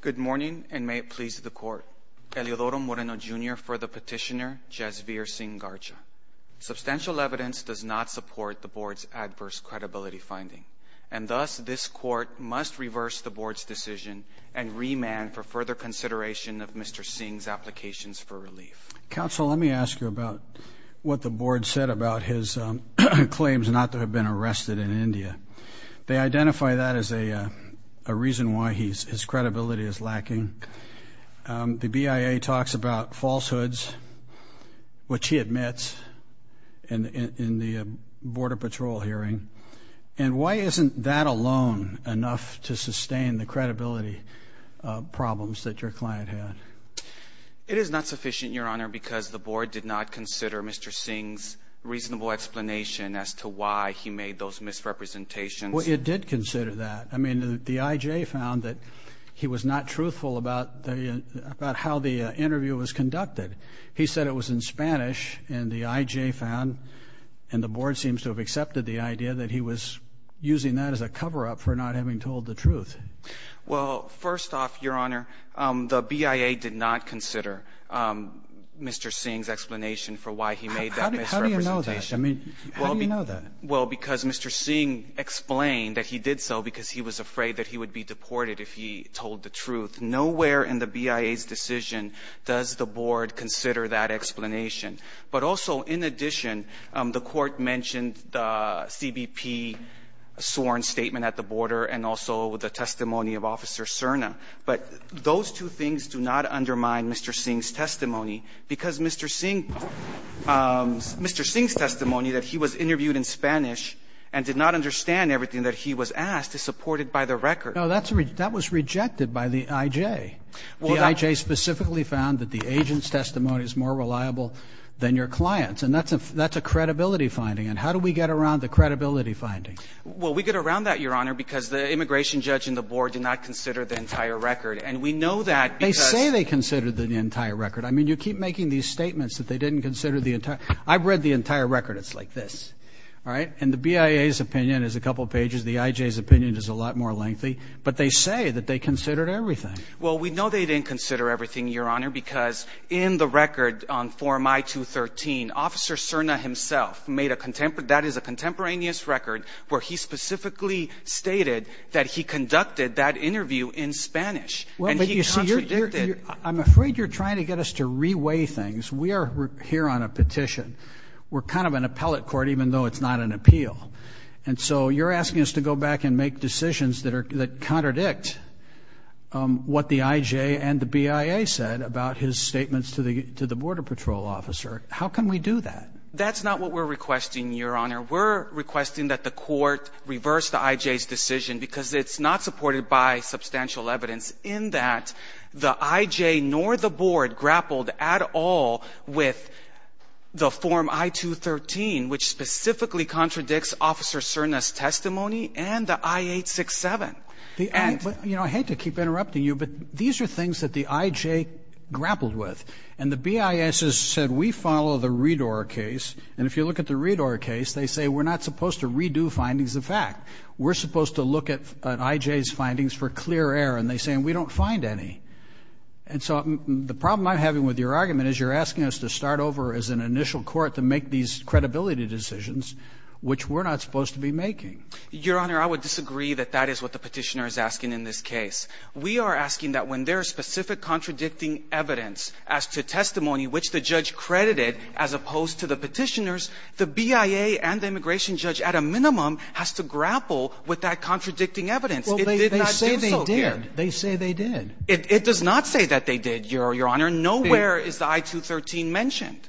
Good morning and may it please the court. Eliodoro Moreno Jr. for the petitioner Jasvir Singh-Garcha. Substantial evidence does not support the board's adverse credibility finding and thus this court must reverse the board's decision and remand for further consideration of Mr. Singh's applications for relief. Counsel, let me ask you about what the board said about his claims not to have been arrested in India. They identify that as a reason why his credibility is lacking. The BIA talks about falsehoods which he admits in the border patrol hearing and why isn't that alone enough to sustain the credibility problems that your client had? It is not sufficient your honor because the board did not consider Mr. Singh's reasonable explanation as to why he made those misrepresentations. Well it did consider that. I mean the IJ found that he was not truthful about how the interview was conducted. He said it was in Spanish and the IJ found and the board seems to have accepted the idea that he was using that as a cover-up for not having told the truth. Well first off your honor the BIA did not consider Mr. Singh's explanation for why he made that misrepresentation. How do you know that? Well because Mr. Singh explained that he did so because he was afraid that he would be deported if he told the truth. Nowhere in the BIA's decision does the board consider that explanation. But also in addition the court mentioned the CBP sworn statement at the border and also the testimony of officer Cerna. But those two things do not undermine Mr. Singh's testimony because Mr. Singh's testimony that he was interviewed in Spanish and did not understand everything that he was asked is supported by the record. Now that was rejected by the IJ. The IJ specifically found that the agent's testimony is more reliable than your client's and that's a credibility finding and how do we get around the credibility finding? Well we get around that your honor because the immigration judge and the board did not say they considered the entire record. I mean you keep making these statements that they didn't consider the entire. I've read the entire record it's like this. All right and the BIA's opinion is a couple pages the IJ's opinion is a lot more lengthy but they say that they considered everything. Well we know they didn't consider everything your honor because in the record on form I-213 officer Cerna himself made a contemporary that is a contemporaneous record where he specifically stated that he conducted that interview in Spanish. I'm afraid you're trying to get us to reweigh things. We are here on a petition. We're kind of an appellate court even though it's not an appeal and so you're asking us to go back and make decisions that are that contradict what the IJ and the BIA said about his statements to the to the border patrol officer. How can we do that? That's not what we're requesting your honor. We're requesting that the court reverse the IJ's decision because it's not supported by substantial evidence in that the IJ nor the board grappled at all with the form I-213 which specifically contradicts officer Cerna's testimony and the I-867. You know I hate to keep interrupting you but these are things that the IJ grappled with and the BIA has said we follow the Redor case and if you look at the Redor case they say we're not supposed to redo findings of fact. We're supposed to look at an IJ's findings for clear air and they say we don't find any and so the problem I'm having with your argument is you're asking us to start over as an initial court to make these credibility decisions which we're not supposed to be making. Your honor I would disagree that that is what the petitioner is asking in this case. We are asking that when there are specific contradicting evidence as to testimony which the judge credited as opposed to the petitioners the BIA and the immigration judge at a minimum has to grapple with that contradicting evidence. They say they did. It does not say that they did your honor. Nowhere is the I-213 mentioned.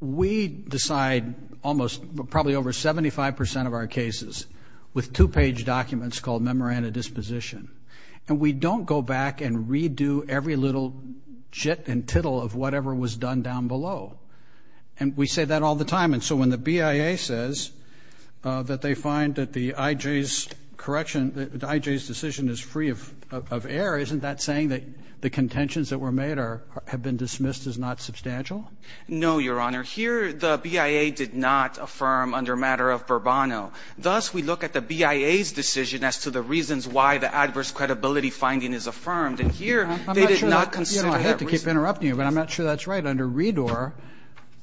We decide almost probably over 75 percent of our cases with two-page documents called memoranda disposition and we don't go back and redo every little jit and tittle of whatever was done down below and we say that all the time and so when the judge says they find that the IJ's correction the IJ's decision is free of air isn't that saying that the contentions that were made are have been dismissed as not substantial? No your honor. Here the BIA did not affirm under matter of Bourbono. Thus we look at the BIA's decision as to the reasons why the adverse credibility finding is affirmed and here they did not consider that reason. I hate to keep interrupting you but I'm not sure that's right. Under Redor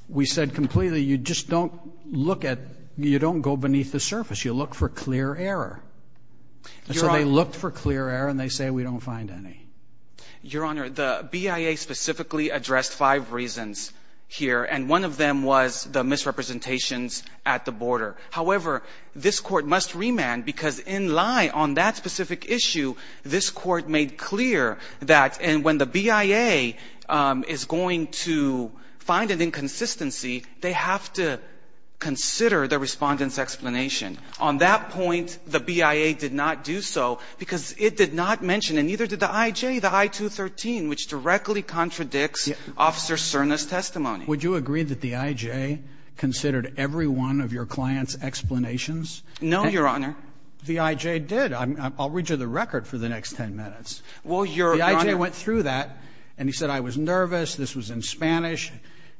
we said completely you just don't look at you don't go beneath the surface you look for clear error. So they looked for clear error and they say we don't find any. Your honor the BIA specifically addressed five reasons here and one of them was the misrepresentations at the border. However this court must remand because in lie on that specific issue this court made clear that and when the BIA is going to find an inconsistency they have to consider the respondent's explanation. On that point the BIA did not do so because it did not mention and neither did the IJ the I-213 which directly contradicts officer Cerna's testimony. Would you agree that the IJ considered every one of your client's explanations? No your honor. The IJ did. I'll read you the record for the next ten minutes. Well your honor. The IJ went through that and he said I was nervous this was in Spanish.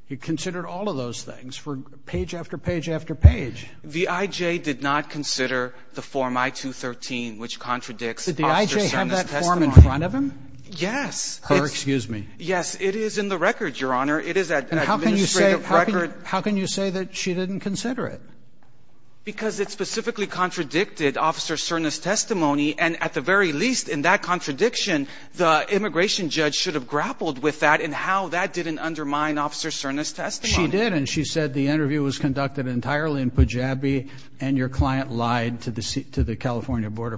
He considered all of those things for page after page after page. The IJ did not consider the form I-213 which contradicts officer Cerna's testimony. Did the IJ have that form in front of him? Yes. Her excuse me. Yes it is in the record your honor. It is an administrative record. How can you say that she didn't consider it? Because it specifically contradicted officer Cerna's testimony and at the very least in that contradiction the immigration judge should have grappled with that and how that didn't undermine officer Cerna's testimony. She did and she said the interview was conducted entirely in Pujabi and your client lied to the California border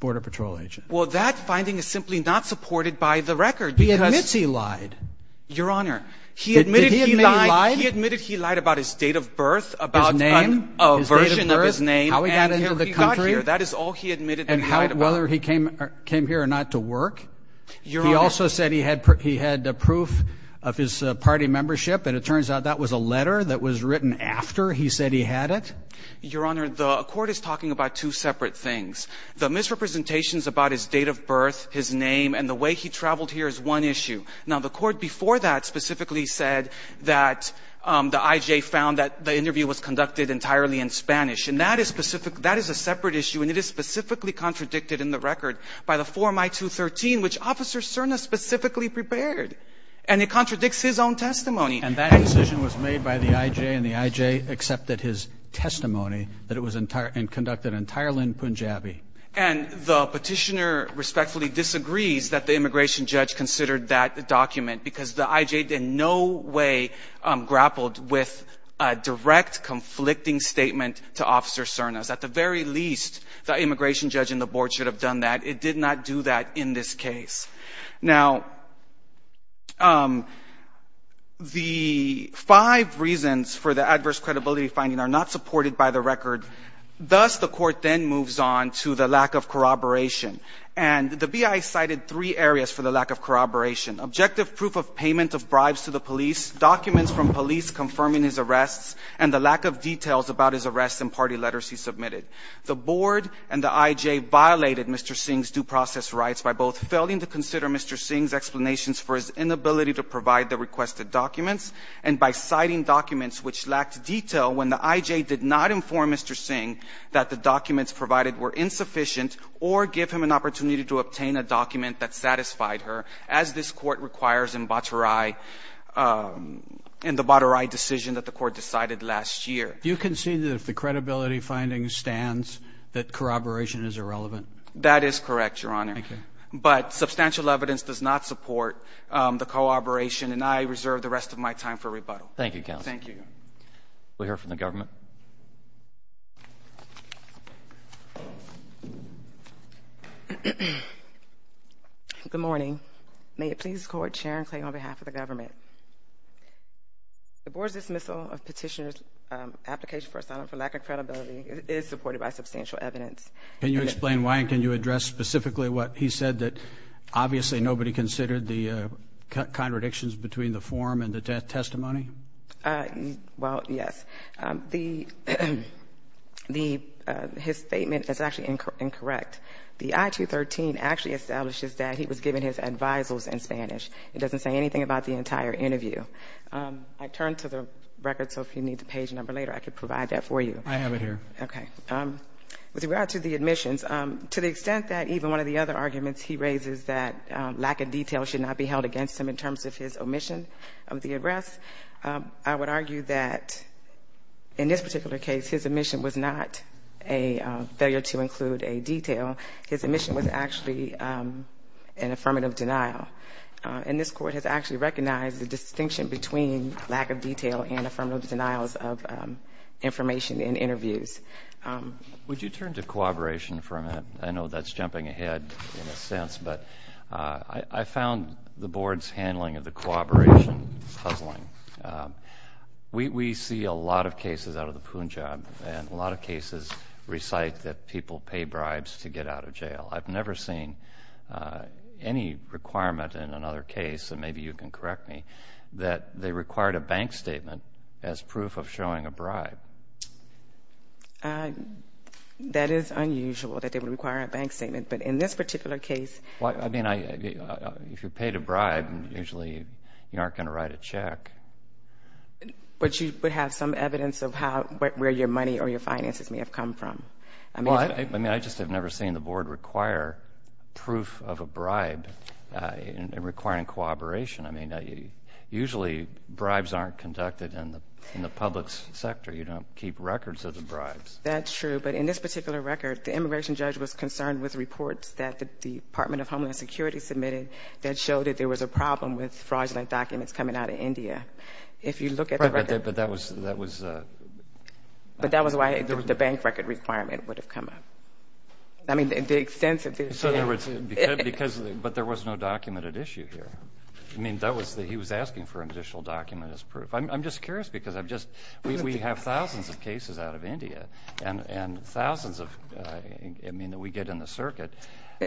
patrol agent. Well that finding is simply not supported by the record. He admits he lied. Your honor. Did he admit he lied? He admitted he lied about his date of birth, about a version of his name and how he got here. That is all he admitted he lied about. Whether he came here or not to work. He also said he had proof of his party membership and it turns out that was a letter that was written after he said he had it. Your honor the court is talking about two separate things. The misrepresentations about his date of birth, his name and the way he traveled here is one issue. Now the court before that specifically said that the IJ found that the interview was conducted entirely in Spanish and that is a separate issue and it is specifically contradicted in the record by the form I-213 which officer Cerna specifically prepared and it contradicts his own testimony. And that decision was made by the IJ and the IJ accepted his testimony that it was conducted entirely in Punjabi. And the petitioner respectfully disagrees that the immigration judge considered that document because the IJ in no way grappled with a direct conflicting statement to officer Cerna's. At the very least the immigration judge and the board should have done that. It did not do that in this case. Now the five reasons for the adverse credibility finding are not supported by the record. Thus the court then moves on to the lack of corroboration. And the BI cited three areas for the lack of corroboration. Objective proof of payment of bribes to the police, documents from police confirming his arrests and the lack of details about his arrests and party letters he submitted. The board and the IJ violated Mr. Singh's due process rights by both failing to consider Mr. Singh's explanations for his inability to provide the requested documents and by citing documents which lacked detail when the IJ did not inform Mr. Singh that the documents provided were insufficient or give him an opportunity to obtain a document that satisfied her as this court requires in Batarai in the Do you see that if the credibility finding stands that corroboration is irrelevant? That is correct, Your Honor. But substantial evidence does not support the corroboration and I reserve the rest of my time for rebuttal. Thank you, Counsel. Thank you. We'll hear from the government. Good morning. May it please the Court, Sharon Clay on behalf of the government. The board's dismissal of petitioner's application for asylum for lack of credibility is supported by substantial evidence. Can you explain why and can you address specifically what he said that obviously nobody considered the contradictions between the form and the testimony? Well, yes. His statement is actually incorrect. The I-213 actually establishes that he was given his advisals in Spanish. It doesn't say anything about the entire interview. I turned to the record, so if you need the page number later, I could provide that for you. I have it here. Okay. With regard to the admissions, to the extent that even one of the other arguments he raises that lack of detail should not be held against him in terms of his omission of the arrest, I would argue that in this particular case, his omission was not a failure to include a detail. His omission was actually an affirmative denial. And this Court has actually recognized the distinction between lack of detail and affirmative denials of information in interviews. Would you turn to cooperation for a minute? I know that's jumping ahead in a sense, but I found the board's handling of the cooperation puzzling. We see a lot of cases out of the Punjab and a lot of cases recite that people pay bribes to get out of jail. I've never seen any requirement in another case, and maybe you can correct me, that they required a bank statement as proof of showing a bribe. That is unusual that they would require a bank statement, but in this particular case... Well, I mean, if you're paid a bribe, usually you aren't going to write a check. But you would have some evidence of where your money or your finances may have come from. Well, I mean, I just have never seen the board require proof of a bribe in requiring cooperation. I mean, usually bribes aren't conducted in the public sector. You don't keep records of the bribes. That's true, but in this particular record, the immigration judge was concerned with reports that the Department of Homeland Security submitted that showed that there was a problem with fraudulent documents coming out of India. If you look at the record... Right, but that was... But that was why the bank record requirement would have come up. I mean, the extent of the... But there was no documented issue here. I mean, that was... he was asking for additional document as proof. I'm just curious, because we have thousands of cases out of India, and thousands of... I mean, we get in the circuit,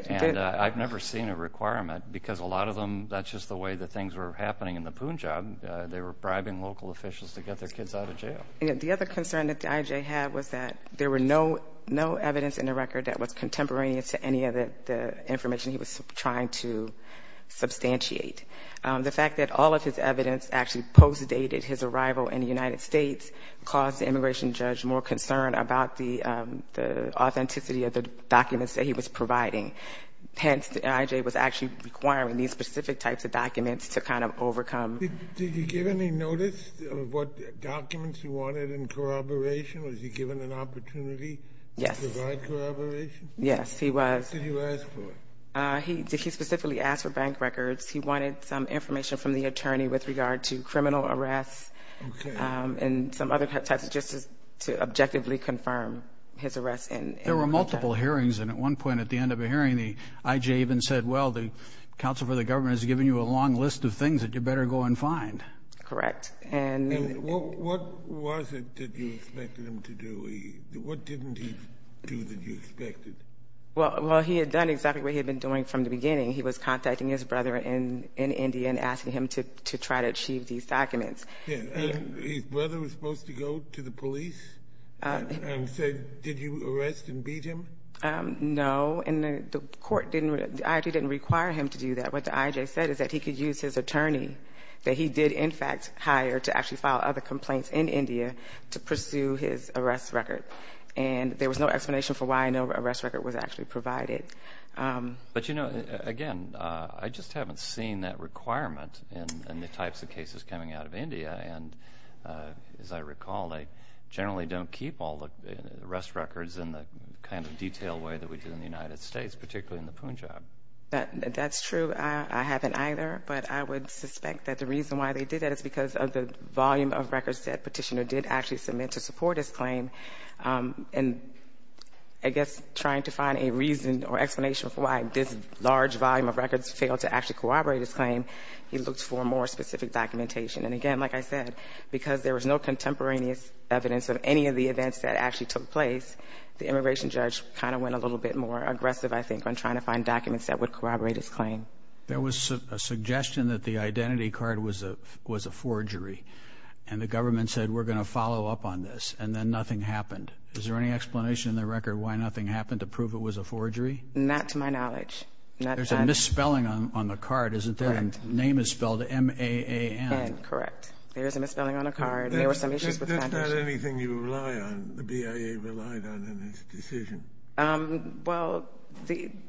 and I've never seen a requirement, because a lot of them, that's just the way the things were happening in the Punjab. They were bribing local officials to get their kids out of jail. The other concern that the IJ had was that there were no evidence in the record that was contemporaneous to any of the information he was trying to substantiate. The fact that all of his evidence actually post-dated his arrival in the United States caused the immigration judge more concern about the authenticity of the documents that he was providing. Hence, the IJ was actually requiring these specific types of documents to kind of overcome... Was he wanted in corroboration? Was he given an opportunity to provide corroboration? Yes. Yes, he was. What did he ask for? He specifically asked for bank records. He wanted some information from the attorney with regard to criminal arrests and some other types, just to objectively confirm his arrests in... There were multiple hearings, and at one point at the end of a hearing, the IJ even said, well, the counsel for the government has given you a long list of things that you better go and find. Correct. And... Well, what was it that you expected him to do? What didn't he do that you expected? Well, he had done exactly what he had been doing from the beginning. He was contacting his brother in India and asking him to try to achieve these documents. And his brother was supposed to go to the police and say, did you arrest and beat him? No, and the court didn't... the IJ didn't require him to do that. What the IJ said is that he could use his attorney that he did, in fact, hire to actually file other complaints in India to pursue his arrest record. And there was no explanation for why no arrest record was actually provided. But you know, again, I just haven't seen that requirement in the types of cases coming out of India. And as I recall, they generally don't keep all the arrest records in the kind of detailed way that we do in the United States, particularly in the Punjab. That's true. I haven't either. But I would suspect that the reason why they did that is because of the volume of records that Petitioner did actually submit to support his claim. And I guess trying to find a reason or explanation for why this large volume of records failed to actually corroborate his claim, he looked for more specific documentation. And again, like I said, because there was no contemporaneous evidence of any of the events that actually took place, the immigration judge kind of went a little bit more aggressive, I think, on trying to find documents that would corroborate his claim. There was a suggestion that the identity card was a forgery. And the government said, we're going to follow up on this. And then nothing happened. Is there any explanation in the record why nothing happened to prove it was a forgery? Not to my knowledge. There's a misspelling on the card, isn't there? Correct. The name is spelled M-A-A-N. N, correct. There is a misspelling on the card. There were some issues with that. That's not anything you rely on, the BIA relied on in its decision. Well,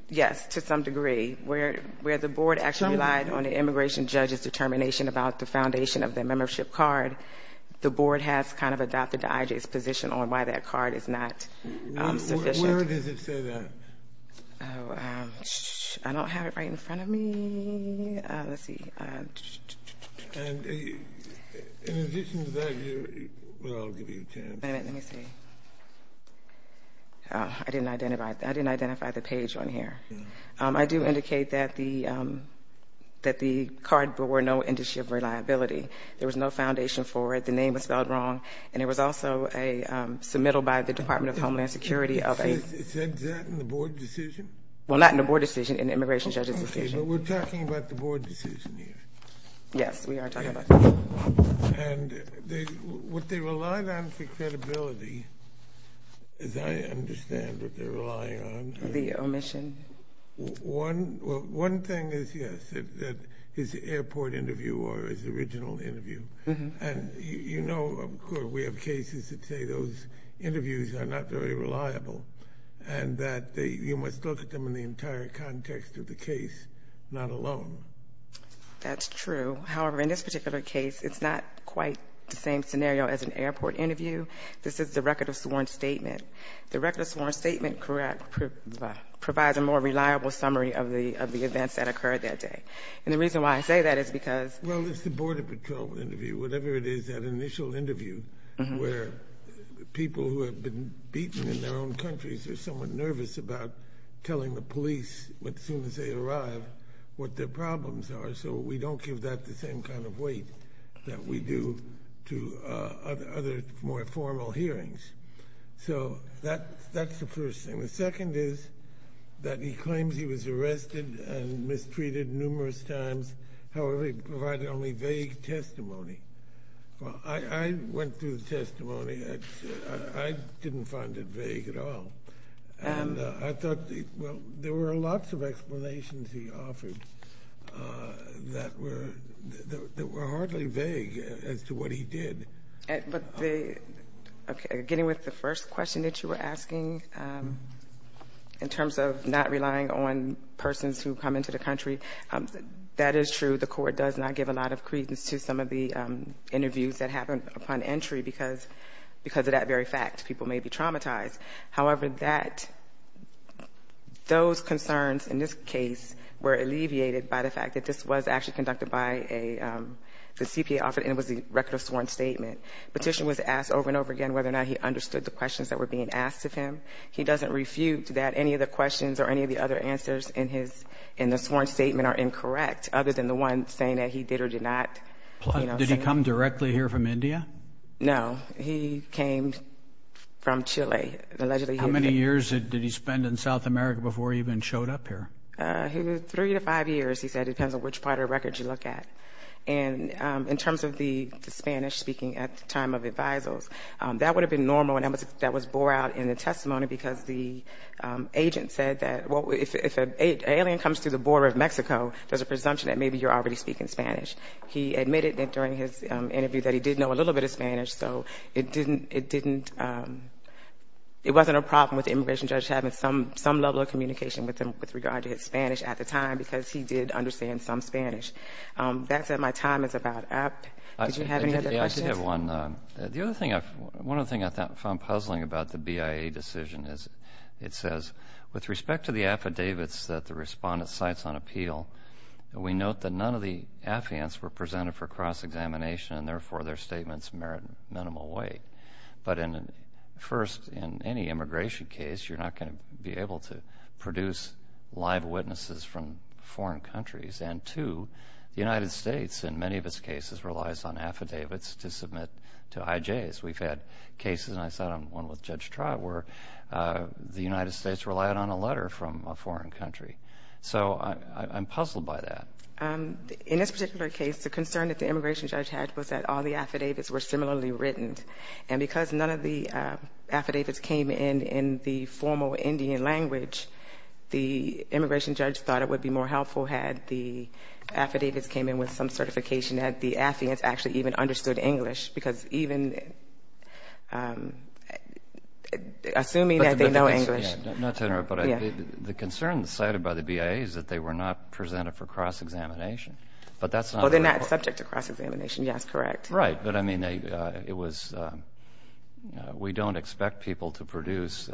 yes, to some degree. Where the board actually relied on the immigration judge's determination about the foundation of the membership card, the board has kind of adopted the IJ's position on why that card is not sufficient. Where does it say that? I don't have it right in front of me. Let's see. In addition to that, I'll give you a chance. Wait a minute, let me see. I didn't identify the page on here. I do indicate that the card bore no indication of reliability. There was no foundation for it. The name was spelled wrong. And it was also submittal by the Department of Homeland Security. Is that in the board decision? Well, not in the board decision, in the immigration judge's decision. Okay, but we're talking about the board decision here. Yes, we are talking about the board decision. And what they relied on for credibility, as I understand what they're relying on. The omission? One thing is, yes, that his airport interview or his original interview. And you know, of course, we have cases that say those interviews are not very reliable, and that you must look at them in the entire context of the case, not alone. That's true. However, in this particular case, it's not quite the same scenario as an airport interview. This is the record of sworn statement. The record of sworn statement provides a more reliable summary of the events that occurred that day. And the reason why I say that is because... Well, it's the border patrol interview, whatever it is, that initial interview, where people who have been beaten in their own countries are somewhat nervous about telling the police as soon as they arrive what their problems are, so we don't give that the same kind of weight that we do to other more formal hearings. So, that's the first thing. The second is that he claims he was arrested and mistreated numerous times. However, he provided only vague testimony. Well, I went through the testimony. I didn't find it vague at all. And I thought, well, there were lots of explanations he offered that were hardly vague as to what he did. But getting with the first question that you were asking, in terms of not relying on persons who come into the country, that is true. The court does not give a lot of credence to some of the interviews that happen upon entry because of that very fact. People may be traumatized. However, those concerns in this case were alleviated by the fact that this was actually conducted by the CPA officer and it was a record of sworn statement. Petition was asked over and over again whether or not he understood the questions that were being asked of him. He doesn't refute that any of the questions or any of the other answers in the sworn statement are incorrect, other than the one saying that he did or did not... Did he come directly here from India? No. He came from Chile. How many years did he spend in South America before he even showed up here? Three to five years, he said, depends on which part of the record you look at. And in terms of the Spanish speaking at the time of advisals, that would have been normal and that was bore out in the testimony because the agent said that, well, if an alien comes to the border of Mexico, there's a presumption that maybe you're already speaking Spanish. He admitted that during his interview that he did know a little bit of Spanish, so it didn't, it wasn't a problem with the immigration judge having some level of communication with him with regard to his Spanish at the time because he did understand some Spanish. That said, my time is about up. Did you have any other questions? I did have one. The other thing, one other thing I found puzzling about the BIA decision is it says, with respect to the affidavits that the respondent cites on appeal, we note that none of the affidavits were presented for cross-examination and therefore their statements merit minimal weight. But first, in any immigration case, you're not going to be able to produce live witnesses from foreign countries. And two, the United States, in many of its cases, relies on affidavits to submit to IJs. We've had cases, and I saw one with Judge Trott, where the United States relied on a letter from a foreign country. So, I'm puzzled by that. In this particular case, the concern that the immigration judge had was that all the affidavits were similarly written. And because none of the affidavits came in in the formal Indian language, the immigration judge thought it would be more helpful had the affidavits came in with some certification that the affidavits actually even understood English because even, assuming that they know English. Not to interrupt, but the concern cited by the BIA is that they were not presented for cross-examination. But they're not subject to cross-examination, yes, correct. Right, but I mean, it was, we don't expect people to produce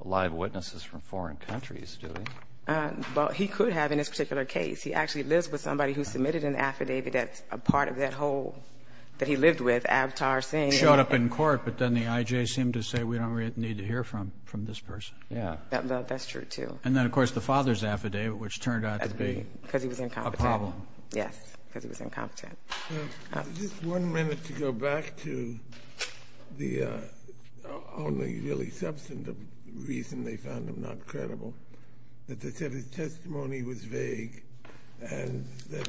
live witnesses from foreign countries, do we? Well, he could have in this particular case. He actually lives with somebody who submitted an affidavit that's a part of that whole, that he lived with, Avatar Singh. He showed up in court, but then the IJ seemed to say, we don't really need to hear from this person. Yeah. That's true, too. And then, of course, the father's affidavit, which turned out to be a problem. Because he was incompetent. Yes, because he was incompetent. Just one minute to go back to the only really substantive reason they found him not credible, that they said his testimony was vague, and that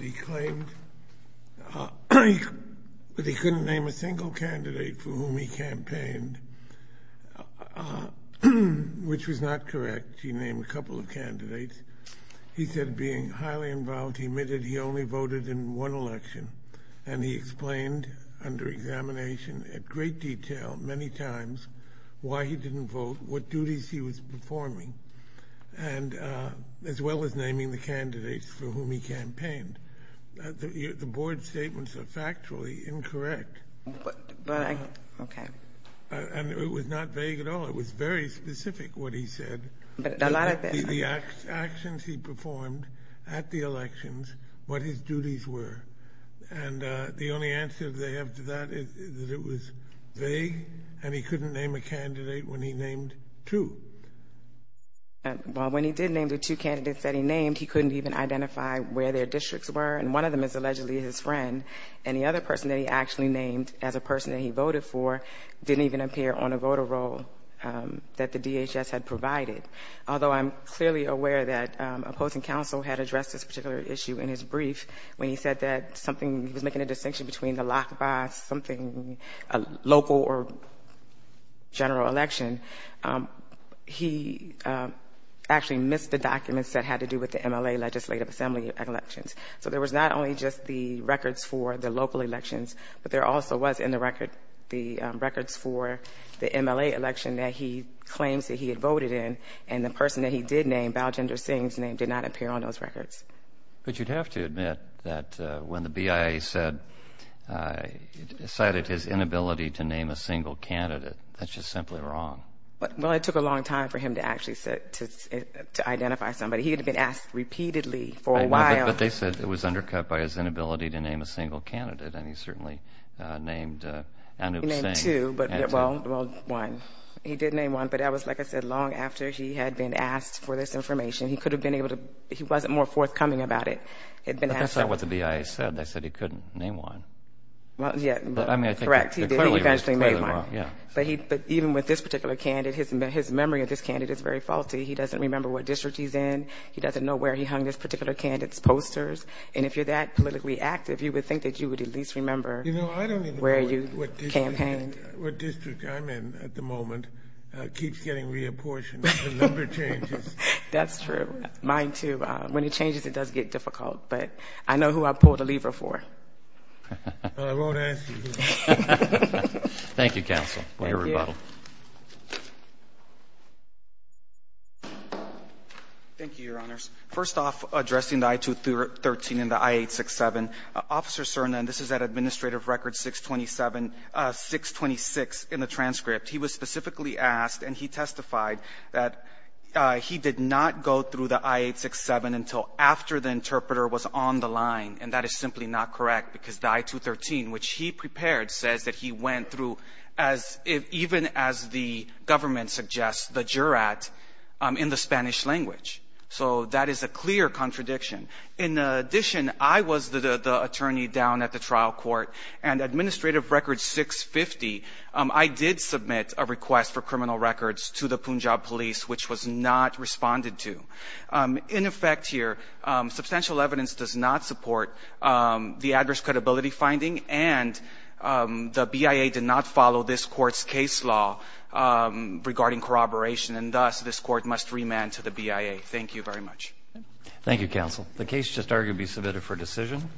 he claimed that he couldn't name a single candidate for whom he campaigned, which was not correct. He named a couple of candidates. He said, being highly involved, he admitted he only voted in one election. And he explained under examination at great detail, many times, why he didn't vote, what duties he was performing, as well as naming the candidates for whom he campaigned. The board statements are factually incorrect. But, okay. And it was not vague at all. It was very specific, what he said. But a lot of it. The actions he performed at the elections, what his duties were. And the only answer they have to that is that it was vague, and he couldn't name a candidate when he named two. Well, when he did name the two candidates that he named, he couldn't even identify where their districts were. And one of them is allegedly his friend. And the other person that he actually named, as a person that he voted for, didn't even appear on a voter roll that the DHS had provided. Although I'm clearly aware that a opposing counsel had addressed this particular issue in his brief, when he said that something, he was making a distinction between a locked by something, a local or general election, he actually missed the documents that had to do with the MLA legislative assembly elections. So there was not only just the records for the local elections, but there also was in the records for the MLA election that he claims that he had voted in, and the person that he did name, Baljinder Singh's name, did not appear on those records. But you'd have to admit that when the BIA said, cited his inability to name a single candidate, that's just simply wrong. Well, it took a long time for him to actually identify somebody. He had been asked repeatedly for a while. But they said it was undercut by his inability to name a single candidate, and he certainly named Anup Singh. He named two, but, well, one. He did name one, but that was, like I said, long after he had been asked for this information. He could have been able to, he wasn't more forthcoming about it. But that's not what the BIA said. They said he couldn't name one. Well, yeah. Correct. He did. He eventually made one. But even with this particular candidate, his memory of this candidate is very faulty. He doesn't remember what district he's in. He doesn't know where he hung this particular candidate's posters. And if you're that politically active, you would think that you would at least remember where you campaigned. You know, I don't even know what district I'm in at the moment. It keeps getting reapportioned. The number changes. That's true. Mine, too. When it changes, it does get difficult. But I know who I pulled the lever for. I won't ask you. Thank you, counsel. Thank you. Way to rebuttal. Thank you, Your Honors. First off, addressing the I-213 and the I-867, Officer Cerna, and this is at Administrative Record 626 in the transcript, he was specifically asked, and he testified, that he did not go through the I-867 until after the interpreter was on the line. And that is simply not correct. Because the I-213, which he prepared, says that he went through, even as the government suggests, the jurat in the Spanish language. So that is a clear contradiction. In addition, I was the attorney down at the trial court. And Administrative Record 650, I did submit a request for criminal records to the Punjab Police, which was not responded to. In effect here, substantial evidence does not support the adverse credibility finding, and the BIA did not follow this court's case law regarding corroboration. And thus, this court must remand to the BIA. Thank you very much. Thank you, counsel. The case just arguably submitted for decision.